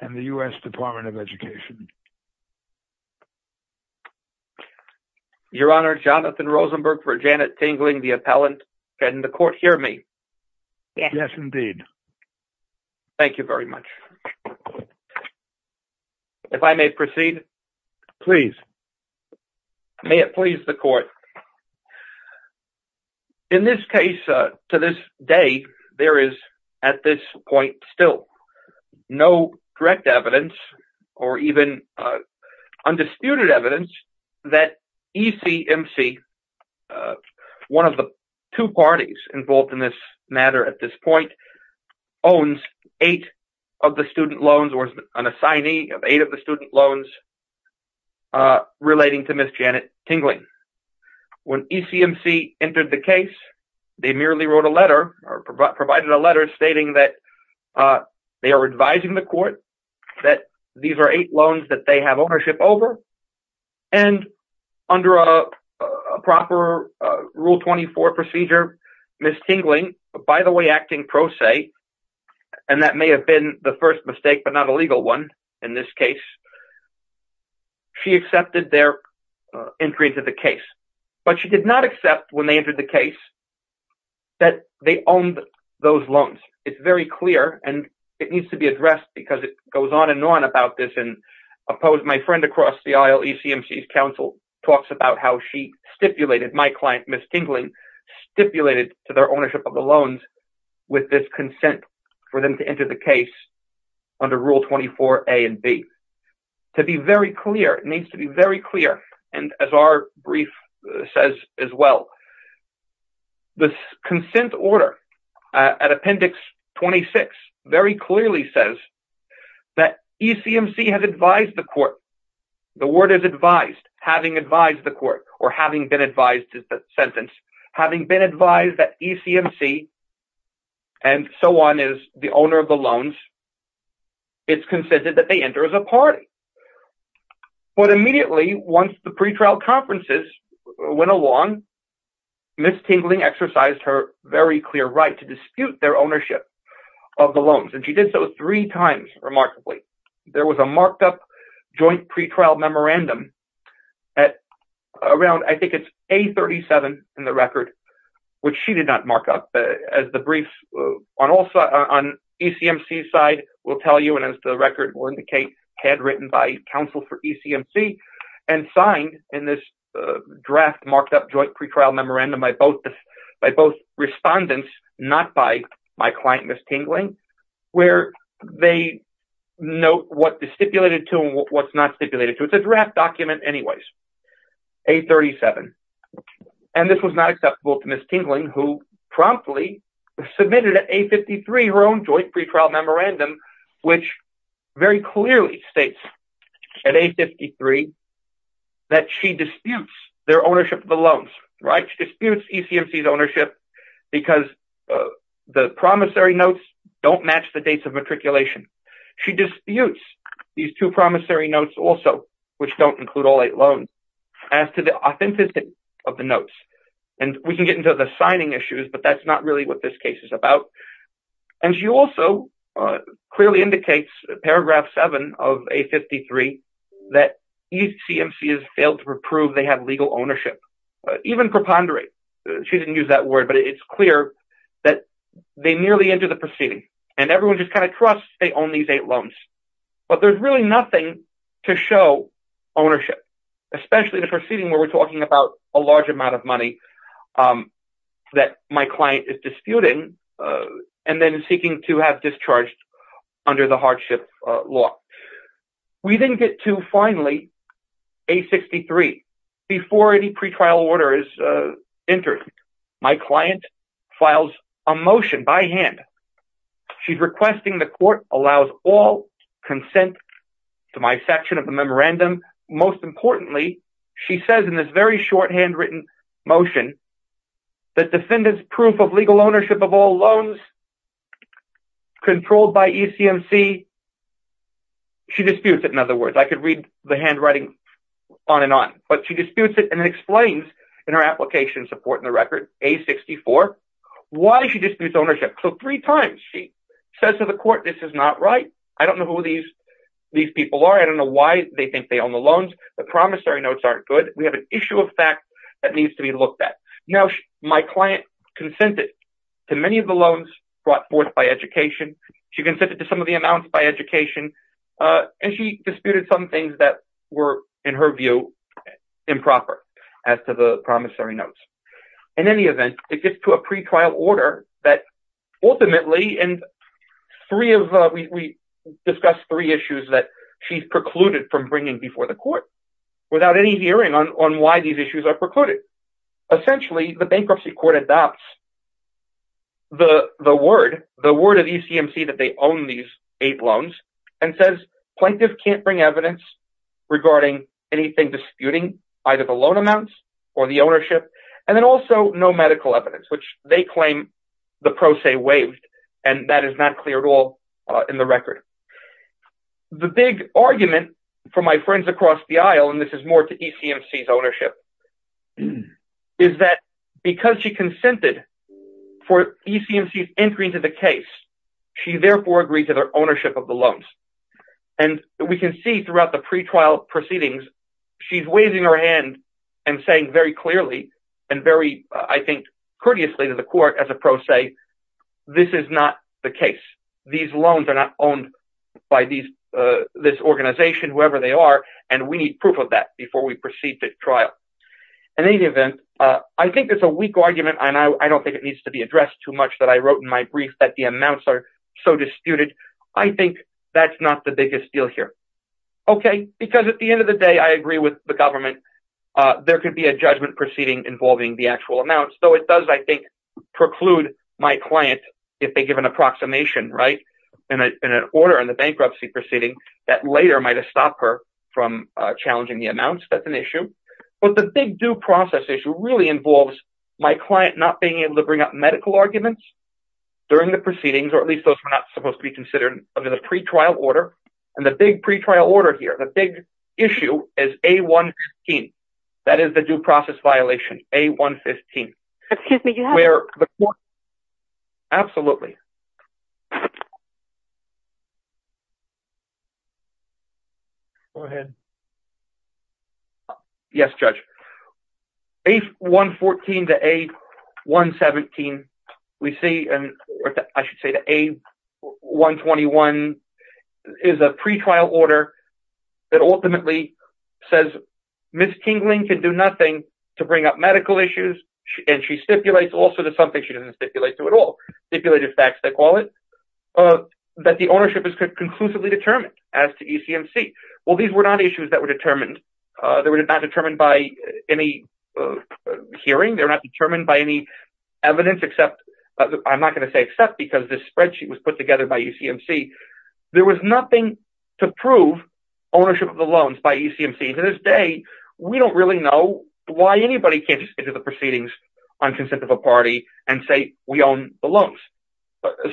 and the U.S. Department of Education. Your Honor, Jonathan Rosenberg for Janet Tingling, the appellant. Can the court hear me? Yes. Yes, indeed. Thank you very much. If I may proceed. Please. May it please the court. In this case, to this day, there is at this point still no direct evidence or even undisputed evidence that ECMC, one of the two parties involved in this matter at this point, owns eight of the student loans or an assignee of eight of the student loans relating to Ms. Janet Tingling. When ECMC entered the case, they merely wrote a letter or provided a letter stating that they are advising the court that these are eight loans that they have ownership over And under a proper Rule 24 procedure, Ms. Tingling, by the way, acting pro se, and that may have been the first mistake, but not a legal one in this case, she accepted their entry into the case, but she did not accept when they entered the case that they owned those loans. It's very clear and it needs to be addressed because it goes on and on about this and opposed my friend across the aisle, ECMC's counsel, talks about how she stipulated, my client Ms. Tingling, stipulated to their ownership of the loans with this consent for them to enter the case under Rule 24 A and B. To be very clear, it needs to be very clear, and as our brief says as well, the consent order at Appendix 26 very clearly says that the word is advised, having advised the court, or having been advised is the sentence, having been advised that ECMC and so on is the owner of the loans, it's consented that they enter as a party. But immediately, once the pretrial conferences went along, Ms. Tingling exercised her very clear right to dispute their ownership of the loans, and she did so three times, remarkably. There was a marked up joint pretrial memorandum at around, I think it's A37 in the record, which she did not mark up, as the briefs on ECMC's side will tell you, and as the record will indicate, had written by counsel for ECMC and signed in this draft marked up joint pretrial memorandum by both respondents, not by my client Ms. Tingling, where they note what is stipulated to and what's not stipulated to, it's a draft document anyways, A37, and this was not acceptable to Ms. Tingling, who promptly submitted at A53 her own joint pretrial memorandum, which very clearly states at A53 that she disputes their ownership of all eight loans, right, she disputes ECMC's ownership because the promissory notes don't match the dates of matriculation. She disputes these two promissory notes also, which don't include all eight loans, as to the authenticity of the notes. And we can get into the signing issues, but that's not really what this case is about. And she also clearly indicates, paragraph seven of A53, that ECMC has failed to prove they have legal ownership. Even preponderate, she didn't use that word, but it's clear that they nearly enter the proceeding and everyone just kind of trusts they own these eight loans. But there's really nothing to show ownership, especially the proceeding where we're talking about a large amount of money that my client is disputing and then seeking to have discharged under the hardship law. We then get to, finally, A63, before any pretrial order is entered. My client files a motion by hand. She's requesting the court allows all consent to my section of the memorandum. Most importantly, she says in this very shorthand written motion that defendants' proof of legal She disputes it, in other words. I could read the handwriting on and on, but she disputes it and it explains in her application support in the record, A64, why she disputes ownership. So three times she says to the court, this is not right. I don't know who these people are. I don't know why they think they own the loans. The promissory notes aren't good. We have an issue of fact that needs to be looked at. Now my client consented to many of the loans brought forth by education. She consented to some of the amounts by education, and she disputed some things that were, in her view, improper as to the promissory notes. In any event, it gets to a pretrial order that ultimately, and we discussed three issues that she's precluded from bringing before the court without any hearing on why these issues are precluded. Essentially, the bankruptcy court adopts the word of ECMC that they own these eight loans and says, Plaintiff can't bring evidence regarding anything disputing either the loan amounts or the ownership, and then also no medical evidence, which they claim the pro se waived, and that is not clear at all in the record. The big argument for my friends across the aisle, and this is more to ECMC's ownership, is that because she consented for ECMC's entry into the case, she therefore agreed to their ownership of the loans. And we can see throughout the pretrial proceedings, she's waving her hand and saying very clearly and very, I think, courteously to the court as a pro se, this is not the case. These loans are not owned by this organization, whoever they are, and we need proof of that before we proceed to trial. In any event, I think it's a weak argument, and I don't think it needs to be addressed too much that I wrote in my brief that the amounts are so disputed. I think that's not the biggest deal here. Okay, because at the end of the day, I agree with the government. There could be a judgment proceeding involving the actual amounts, though it does, I think, preclude my client if they give an approximation, right, in an order in the bankruptcy proceeding that later might have stopped her from challenging the amounts. That's an issue. But the big due process issue really involves my client not being able to bring up medical arguments during the proceedings, or at least those were not supposed to be considered under the pretrial order. And the big pretrial order here, the big issue is A-1-15. That is the due process violation, A-1-15. Excuse me, you have to... Where the court... Absolutely. Go ahead. Yes, Judge. A-1-14 to A-1-17, we see, or I should say to A-1-21 is a pretrial order that ultimately says Ms. Kingling can do nothing to bring up medical issues. And she stipulates also that something she doesn't stipulate to at all, stipulated facts that call it, that the ownership is conclusively determined as to ECMC. Well, these were not issues that were determined. They were not determined by any hearing. They're not determined by any evidence except, I'm not going to say except because this spreadsheet was put together by UCMC. There was nothing to prove ownership of the loans by UCMC. To this day, we don't really know why anybody can't just enter the proceedings on consent of a party and say, we own the loans,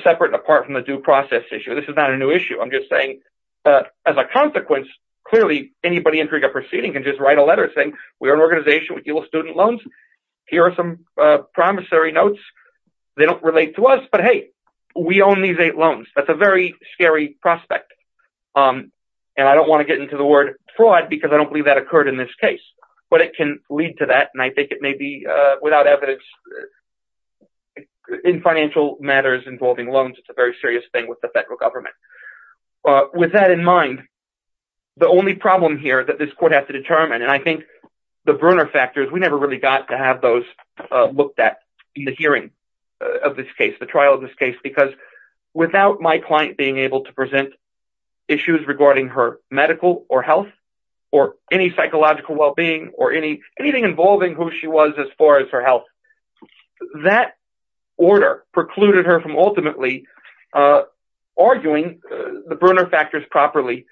separate and apart from the due process issue. This is not a new issue. I'm just saying, as a consequence, clearly anybody entering a proceeding can just write a letter saying, we are an organization, we deal with student loans. Here are some promissory notes. They don't relate to us, but hey, we own these eight loans. That's a very scary prospect. I don't want to get into the word fraud because I don't believe that occurred in this case, but it can lead to that and I think it may be without evidence. In financial matters involving loans, it's a very serious thing with the federal government. With that in mind, the only problem here that this court has to determine, and I think the burner factors, we never really got to have those looked at in the hearing of this case, the trial of this case, because without my client being able to present issues regarding her medical or health or any psychological well-being or anything involving who she was as far as her health, that order precluded her from ultimately arguing the burner factors properly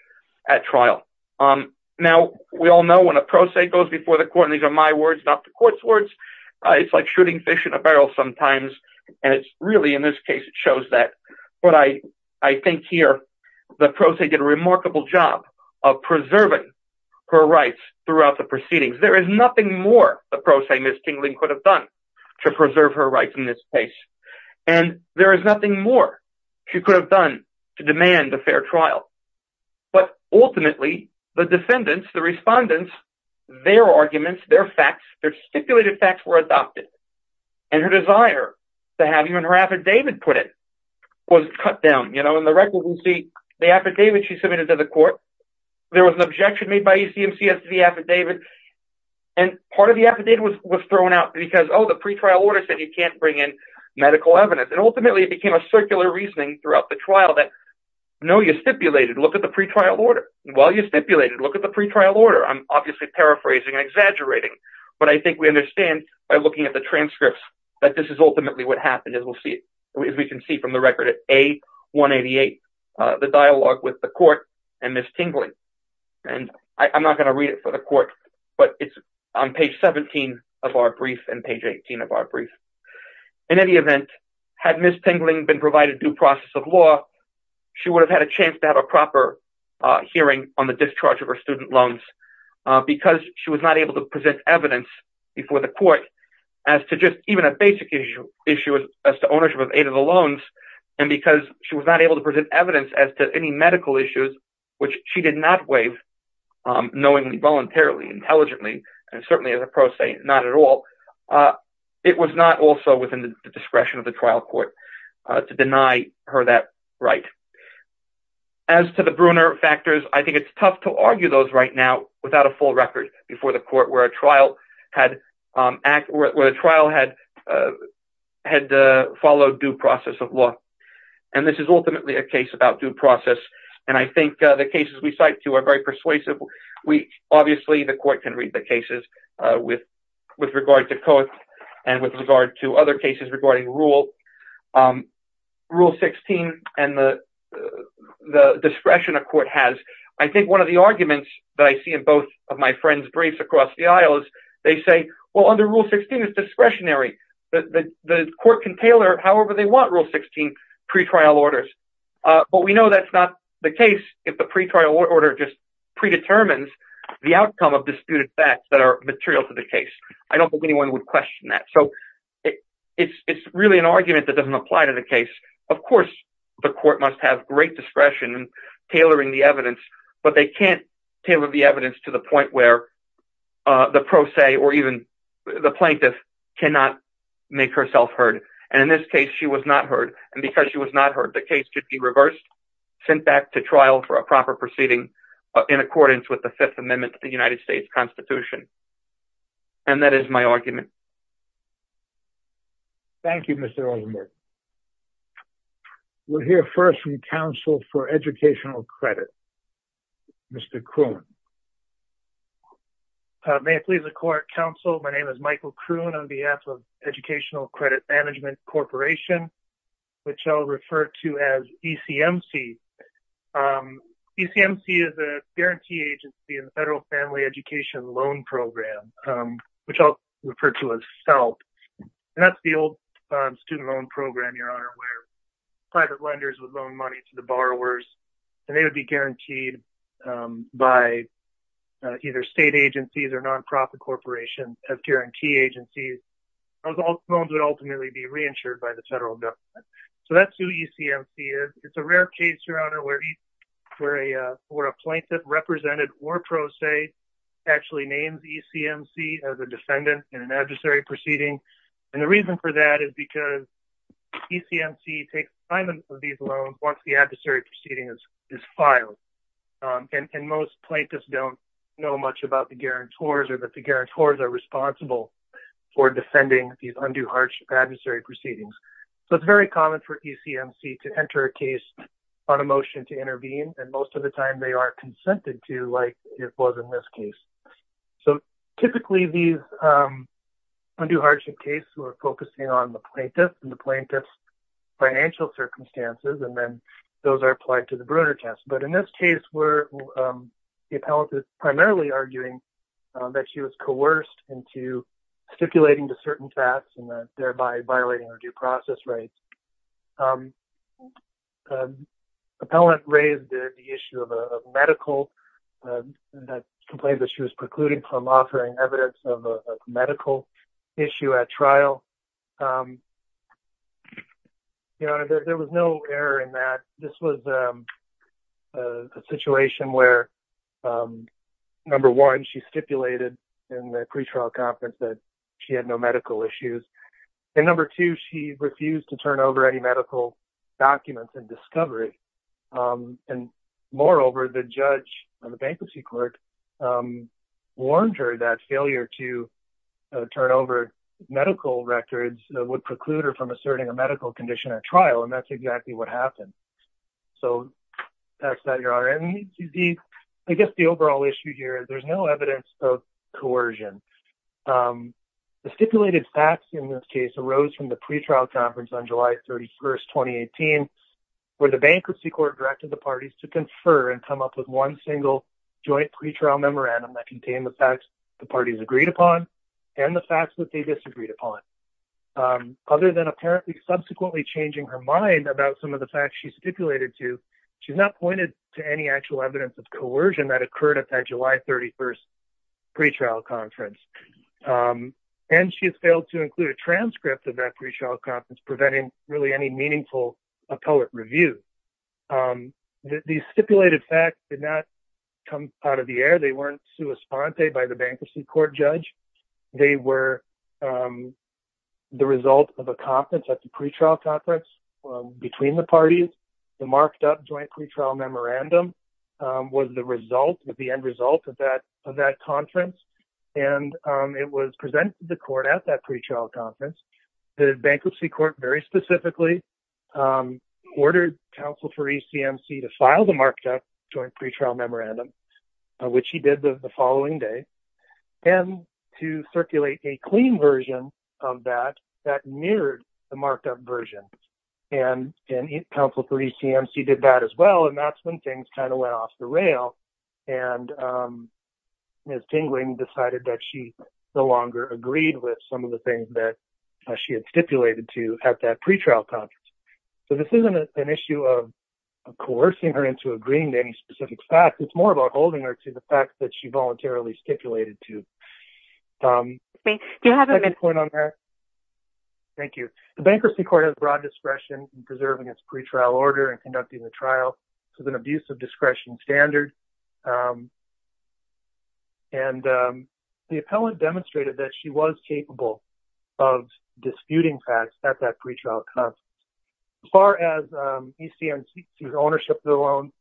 at trial. Now, we all know when a pro se goes before the court, and these are my words, not the in this case, it shows that what I think here, the pro se did a remarkable job of preserving her rights throughout the proceedings. There is nothing more the pro se, Ms. Kingling, could have done to preserve her rights in this case, and there is nothing more she could have done to demand a fair trial. But ultimately, the defendants, the respondents, their arguments, their facts, their stipulated facts were adopted, and her desire to have you in her affidavit put in was cut down. In the record, you can see the affidavit she submitted to the court, there was an objection made by UCMC as to the affidavit, and part of the affidavit was thrown out because, oh, the pretrial order said you can't bring in medical evidence, and ultimately it became a circular reasoning throughout the trial that, no, you stipulated, look at the pretrial order. Well, you stipulated, look at the pretrial order. I'm obviously paraphrasing and exaggerating, but I think we understand by looking at the transcripts that this is ultimately what happened, as we can see from the record at A188, the dialogue with the court and Ms. Kingling. And I'm not going to read it for the court, but it's on page 17 of our brief and page 18 of our brief. In any event, had Ms. Kingling been provided due process of law, she would have had a chance to have a proper hearing on the discharge of her student loans, because she was not able to present evidence before the court as to just even a basic issue as to ownership of aid of the loans, and because she was not able to present evidence as to any medical issues, which she did not waive knowingly, voluntarily, intelligently, and certainly as a pro se, not at all, it was not also within the discretion of the trial court to deny her that right. As to the Bruner factors, I think it's tough to argue those right now without a full record before the court where a trial had followed due process of law. And this is ultimately a case about due process, and I think the cases we cite to are very persuasive. Obviously, the court can read the cases with regard to COIT and with regard to other cases regarding Rule 16 and the discretion a court has. I think one of the arguments that I see in both of my friends' briefs across the aisle is they say, well, under Rule 16, it's discretionary. The court can tailor, however they want, Rule 16, pretrial orders. But we know that's not the case if the pretrial order just predetermines the outcome of disputed facts that are material to the case. I don't think anyone would question that. So it's really an argument that doesn't apply to the case. Of course, the court must have great discretion in tailoring the evidence, but they can't tailor the evidence to the point where the pro se or even the plaintiff cannot make herself heard. And in this case, she was not heard. And because she was not heard, the case should be reversed, sent back to trial for a proper proceeding in accordance with the Fifth Amendment to the United States Constitution. And that is my argument. Thank you, Mr. Oldenburg. We'll hear first from Counsel for Educational Credit, Mr. Kroon. May it please the court, counsel. My name is Michael Kroon on behalf of Educational Credit Management Corporation, which I'll refer to as ECMC. ECMC is a guarantee agency in the Federal Family Education Loan Program, which I'll and that's the old student loan program, Your Honor, where private lenders would loan money to the borrowers, and they would be guaranteed by either state agencies or nonprofit corporations as guarantee agencies. Those loans would ultimately be reinsured by the federal government. So that's who ECMC is. It's a rare case, Your Honor, where a plaintiff represented or pro se actually names ECMC as a defendant in an adversary proceeding. And the reason for that is because ECMC takes time of these loans once the adversary proceeding is filed. And most plaintiffs don't know much about the guarantors or that the guarantors are responsible for defending these undue hardship adversary proceedings. So it's very common for ECMC to enter a case on a motion to intervene, and most of the time they are consented to, like it was in this case. So typically these undue hardship cases are focusing on the plaintiff and the plaintiff's financial circumstances, and then those are applied to the Bruner test. But in this case, where the appellant is primarily arguing that she was coerced into stipulating to certain facts and thereby violating her due process rights, the appellant raised the issue of a medical complaint that she was precluded from offering evidence of a medical issue at trial. Your Honor, there was no error in that. This was a situation where, number one, she stipulated in the pretrial conference that she had no medical issues, and number two, she refused to turn over any medical documents in discovery, and moreover, the judge or the bankruptcy court warned her that failure to turn over medical records would preclude her from asserting a medical condition at trial, and that's exactly what happened. So that's that, Your Honor, and I guess the overall issue here is there's no evidence of coercion. The stipulated facts in this case arose from the pretrial conference on July 31st, 2018, where the bankruptcy court directed the parties to confer and come up with one single joint pretrial memorandum that contained the facts the parties agreed upon and the facts that they disagreed upon. Other than apparently subsequently changing her mind about some of the facts she stipulated to, she's not pointed to any actual evidence of coercion that occurred at that July 31st pretrial conference, and she has failed to include a transcript of that pretrial conference, preventing really any meaningful appellate review. These stipulated facts did not come out of the air. They weren't sua sponte by the bankruptcy court judge. They were the result of a conference at the pretrial conference between the parties. The marked-up joint pretrial memorandum was the end result of that conference, and it was presented to the court at that pretrial conference. The bankruptcy court very specifically ordered counsel for ECMC to file the marked-up joint pretrial memorandum, which he did the following day, and to circulate a clean version of that mirrored the marked-up version, and counsel for ECMC did that as well, and that's when things kind of went off the rail, and Ms. Tingling decided that she no longer agreed with some of the things that she had stipulated to at that pretrial conference. So this isn't an issue of coercing her into agreeing to any specific facts. It's more about holding her to the facts that she voluntarily stipulated to. Do you have a second point on that? Thank you. The bankruptcy court has broad discretion in preserving its pretrial order and conducting the trial. This is an abuse of discretion standard, and the appellant demonstrated that she was capable of disputing facts at that pretrial conference. As far as ECMC's ownership of the loan,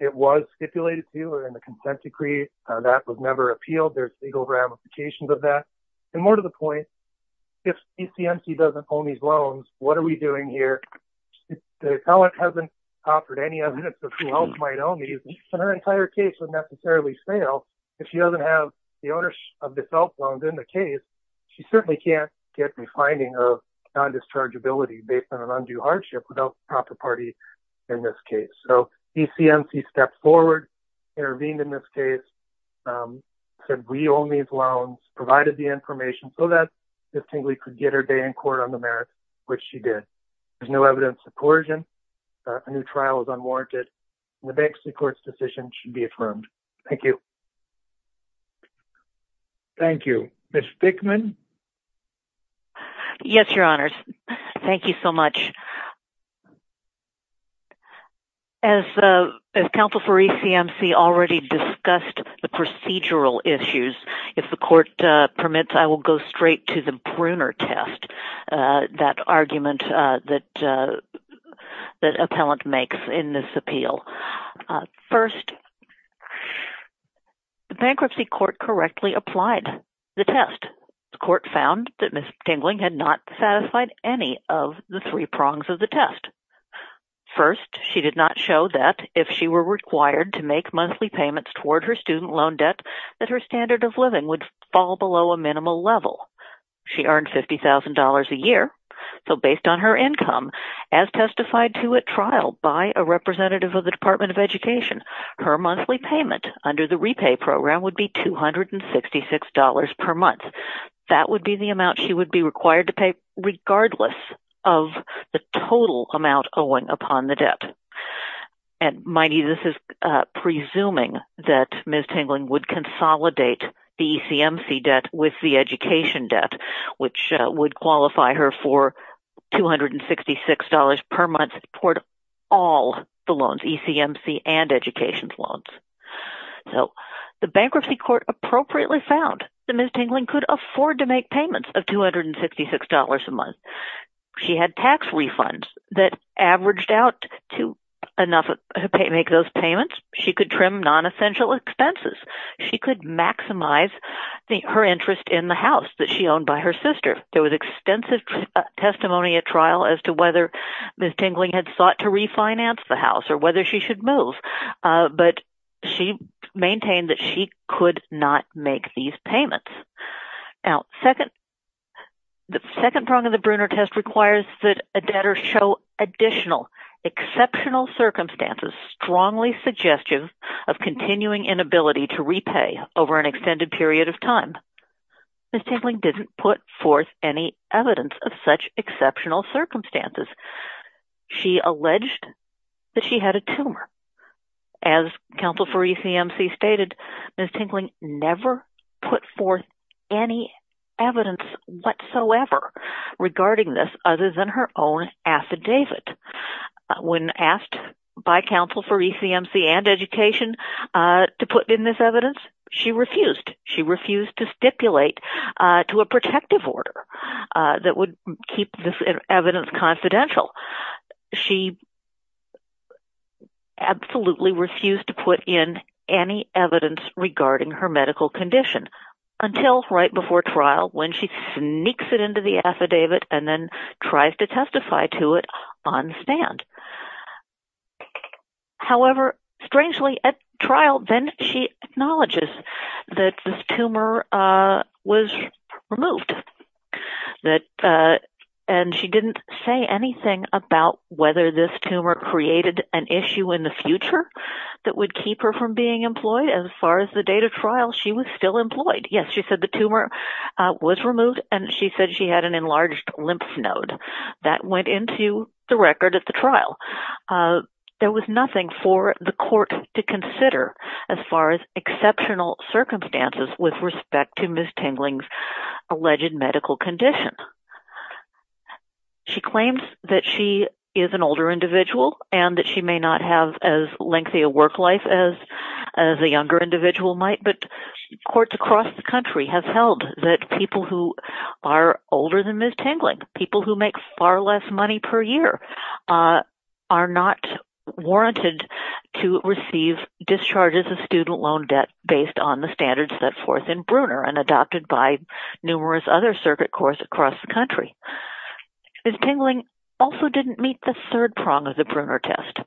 it was stipulated to her in the consent decree. That was never appealed. There's legal ramifications of that. And more to the point, if ECMC doesn't own these loans, what are we doing here? The appellant hasn't offered any evidence of who else might own these, and her entire case would necessarily fail if she doesn't have the ownership of this outbound in the case. She certainly can't get the finding of non-dischargeability based on an undue hardship without the proper party in this case. ECMC stepped forward, intervened in this case, said we own these loans, provided the information so that Ms. Tingley could get her day in court on the merits, which she did. There's no evidence of coercion. A new trial is unwarranted, and the bankruptcy court's decision should be affirmed. Thank you. Thank you. Ms. Fickman? Yes, Your Honors. Thank you so much. As counsel for ECMC already discussed the procedural issues, if the court permits, I will go straight to the Bruner test, that argument that appellant makes in this appeal. First, the bankruptcy court correctly applied the test. The court found that Ms. Tingley had not satisfied any of the three prongs of the test. First, she did not show that if she were required to make monthly payments toward her student loan debt, that her standard of living would fall below a minimal level. She earned $50,000 a year, so based on her income, as testified to at trial by a representative of the Department of Education, her monthly payment under the repay program would be $266 per month. That would be the amount she would be required to pay regardless of the total amount owing upon the debt. And this is presuming that Ms. Tingley would consolidate the ECMC debt with the education debt, which would qualify her for $266 per month toward all the loans, ECMC and education loans. So the bankruptcy court appropriately found that Ms. Tingley could afford to make payments of $266 a month. She had tax refunds that averaged out to enough to make those payments. She could trim non-essential expenses. She could maximize her interest in the house that she owned by her sister. There was extensive testimony at trial as to whether Ms. Tingley had sought to refinance the house or whether she should move. But she maintained that she could not make these payments. Now, the second prong of the Brunner test requires that a debtor show additional exceptional circumstances strongly suggestive of continuing inability to repay over an extended period of time. Ms. Tingley didn't put forth any evidence of such exceptional circumstances. She alleged that she had a tumor. As counsel for ECMC stated, Ms. Tingley never put forth any evidence whatsoever regarding this other than her own affidavit. When asked by counsel for ECMC and education to put in this evidence, she refused. She refused to stipulate to a protective order that would keep this evidence confidential. She absolutely refused to put in any evidence regarding her medical condition until right before trial when she sneaks it into the affidavit and then tries to testify to it on stand. However, strangely, at trial, then she acknowledges that this tumor was removed that and she didn't say anything about whether this tumor created an issue in the future that would keep her from being employed. As far as the date of trial, she was still employed. Yes, she said the tumor was removed and she said she had an enlarged lymph node that went into the record at the trial. There was nothing for the court to consider as far as exceptional circumstances with respect to Ms. Tingley's alleged medical condition. She claims that she is an older individual and that she may not have as lengthy a work life as a younger individual might, but courts across the country have held that people who are older than Ms. Tingley, people who make far less money per year, are not warranted to receive discharges of student loan debt based on the standards set forth in Bruner and adopted by numerous other circuit courts across the country. Ms. Tingley also didn't meet the third prong of the Bruner test,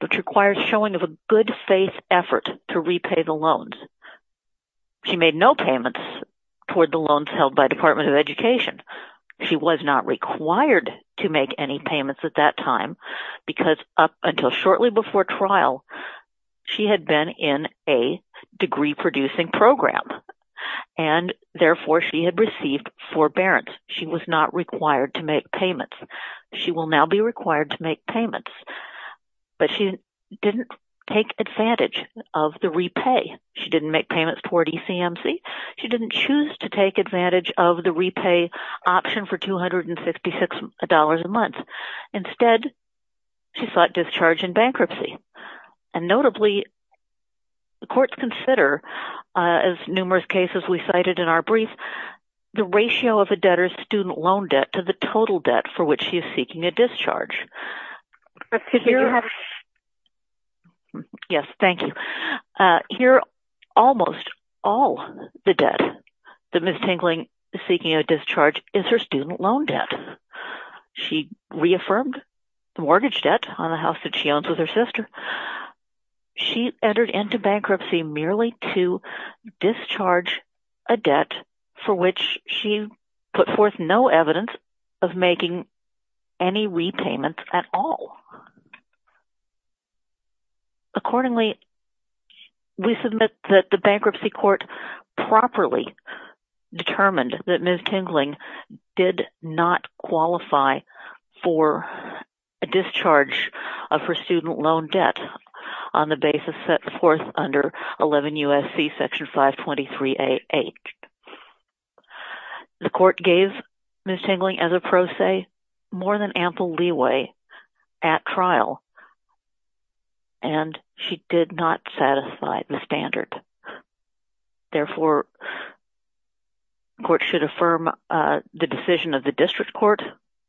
which requires showing of a good faith effort to repay the loans. She made no payments toward the loans held by Department of Education. She was not required to make any payments at that time because up until shortly before trial, she had been in a degree producing program and therefore she had received forbearance. She was not required to make payments. She will now be required to make payments, but she didn't take advantage of the repay. She didn't make payments toward ECMC. She didn't choose to take advantage of the repay option for $266 a month. Instead, she sought discharge in bankruptcy. And notably, the courts consider, as numerous cases we cited in our brief, the ratio of a debtor's student loan debt to the total debt for which she is seeking a discharge. Yes, thank you. Here, almost all the debt that Ms. Tingley is seeking a discharge is her student loan debt. She reaffirmed the mortgage debt on the house that she owns with her sister. She entered into bankruptcy merely to discharge a debt for which she put forth no evidence of making any repayments at all. Accordingly, we submit that the bankruptcy court properly determined that Ms. Tingley did not qualify for a discharge of her student loan debt on the basis set forth under 11 U.S.C. Section 523A.8. The court gave Ms. Tingley, as a pro se, more than ample leeway at trial. And she did not satisfy the standard. Therefore, the court should affirm the decision of the district court,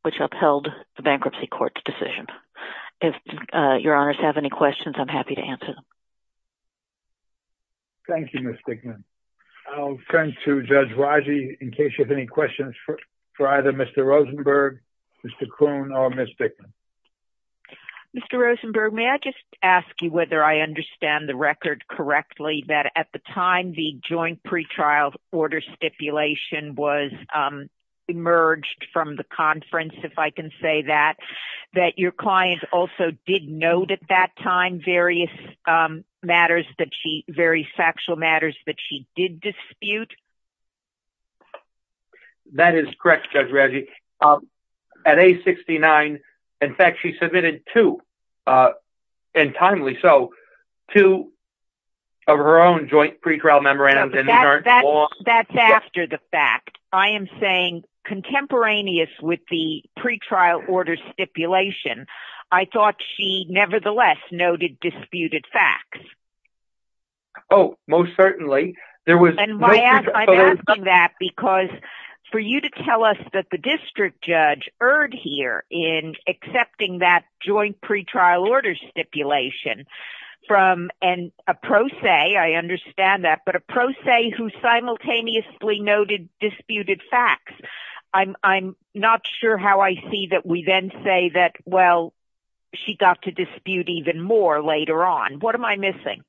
which upheld the bankruptcy court's decision. If your honors have any questions, I'm happy to answer them. Thank you, Ms. Dickman. I'll turn to Judge Raji in case you have any questions for either Mr. Rosenberg, Mr. Kuhn, or Ms. Dickman. Mr. Rosenberg, may I just ask you whether I understand the record correctly that at the time the joint pretrial order stipulation was emerged from the conference, if I can say that, that your client also did note at that time various matters that she, various factual matters that she did dispute? That is correct, Judge Raji. At age 69, in fact, she submitted two, and timely so, two of her own joint pretrial memorandums. That's after the fact. I am saying contemporaneous with the pretrial order stipulation, I thought she nevertheless noted disputed facts. Oh, most certainly. And I'm asking that because for you to tell us that the district judge erred here in accepting that joint pretrial order stipulation from a pro se, I understand that, but a pro se who simultaneously noted disputed facts, I'm not sure how I see that we then say that, well, she got to dispute even more later on. What am I missing?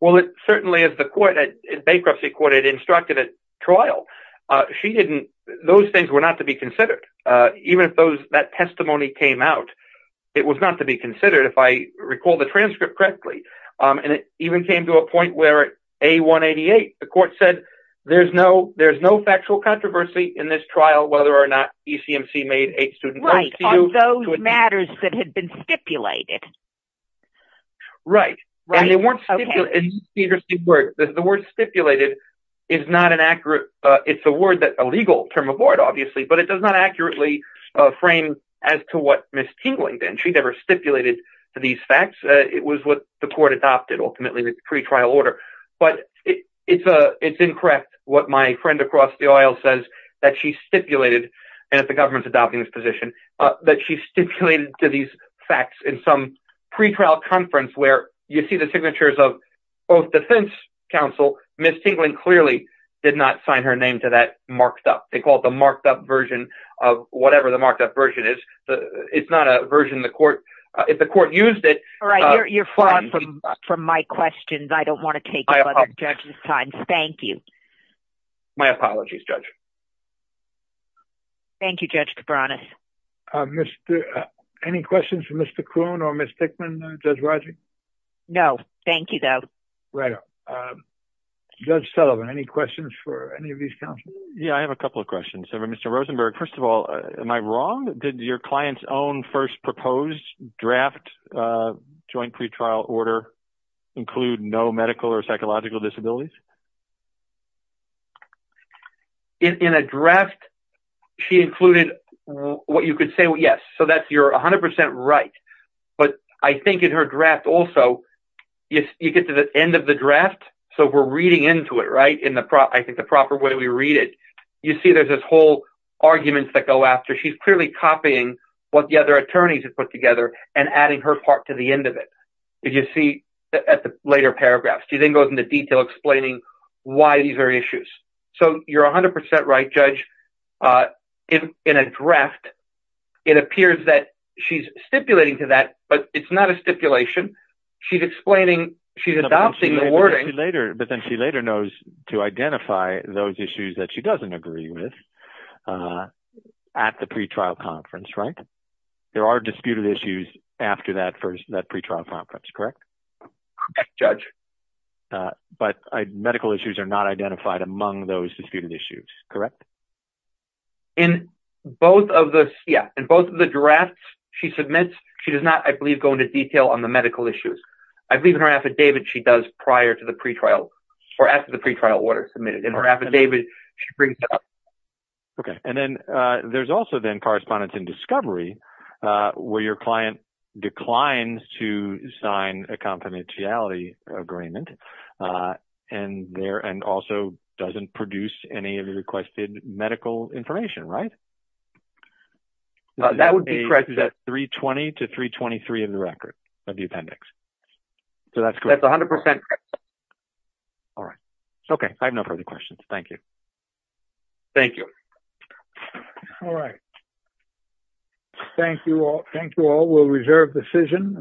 Well, it certainly is the court, bankruptcy court, it instructed a trial. She didn't, those things were not to be considered. Even if those, that testimony came out, it was not to be considered. If I recall the transcript correctly, and it even came to a point where at A-188, the court said, there's no, there's no factual controversy in this trial, whether or not ECMC made a student- Right, on those matters that had been stipulated. Right. And they weren't stipulated, the word stipulated is not an accurate, it's a word that, a legal term of word, obviously, but it does not accurately frame as to what Ms. Tingling did, she never stipulated these facts. It was what the court adopted ultimately, the pretrial order. But it's incorrect what my friend across the aisle says that she stipulated, and if the government's adopting this position, that she stipulated to these facts in some pretrial conference where you see the signatures of both defense counsel, Ms. Tingling clearly did not sign her name to that marked up. They call it the marked up version of whatever the marked up version is. It's not a version the court, if the court used it- All right, you're far from my questions. I don't want to take up other judges' time. Thank you. My apologies, Judge. Thank you, Judge Cabranes. Mr., any questions for Mr. Kuhn or Ms. Thickman, Judge Rodgers? No, thank you, though. Right. Judge Sullivan, any questions for any of these counsel? Yeah, I have a couple of questions. Mr. Rosenberg, first of all, am I wrong? Did your client's own first proposed draft joint pretrial order include no medical or psychological disabilities? In a draft, she included what you could say, yes, so that's, you're 100% right, but I think in her draft also, you get to the end of the draft, so we're reading into it, right, in the proper way we read it. You see there's this whole argument that go after. She's clearly copying what the other attorneys have put together and adding her part to the end of it. If you see at the later paragraphs, she then goes into detail explaining what the other why these are issues. So, you're 100% right, Judge. In a draft, it appears that she's stipulating to that, but it's not a stipulation. She's explaining, she's adopting the wording. But then she later knows to identify those issues that she doesn't agree with at the pretrial conference, right? There are disputed issues after that first, that pretrial conference, correct? Correct, Judge. But medical issues are not identified among those disputed issues, correct? In both of the, yeah, in both of the drafts she submits, she does not, I believe, go into detail on the medical issues. I believe in her affidavit, she does prior to the pretrial or after the pretrial order submitted. In her affidavit, she brings it up. Okay, and then there's also then correspondence in discovery where your client declines to sign a confidentiality agreement and there, and also doesn't produce any of the requested medical information, right? That would be correct. Is that 320 to 323 in the record of the appendix? So, that's correct. That's 100% correct. All right. Okay, I have no further questions. Thank you. Thank you. All right. Thank you all. Thank you all. We'll reserve the session.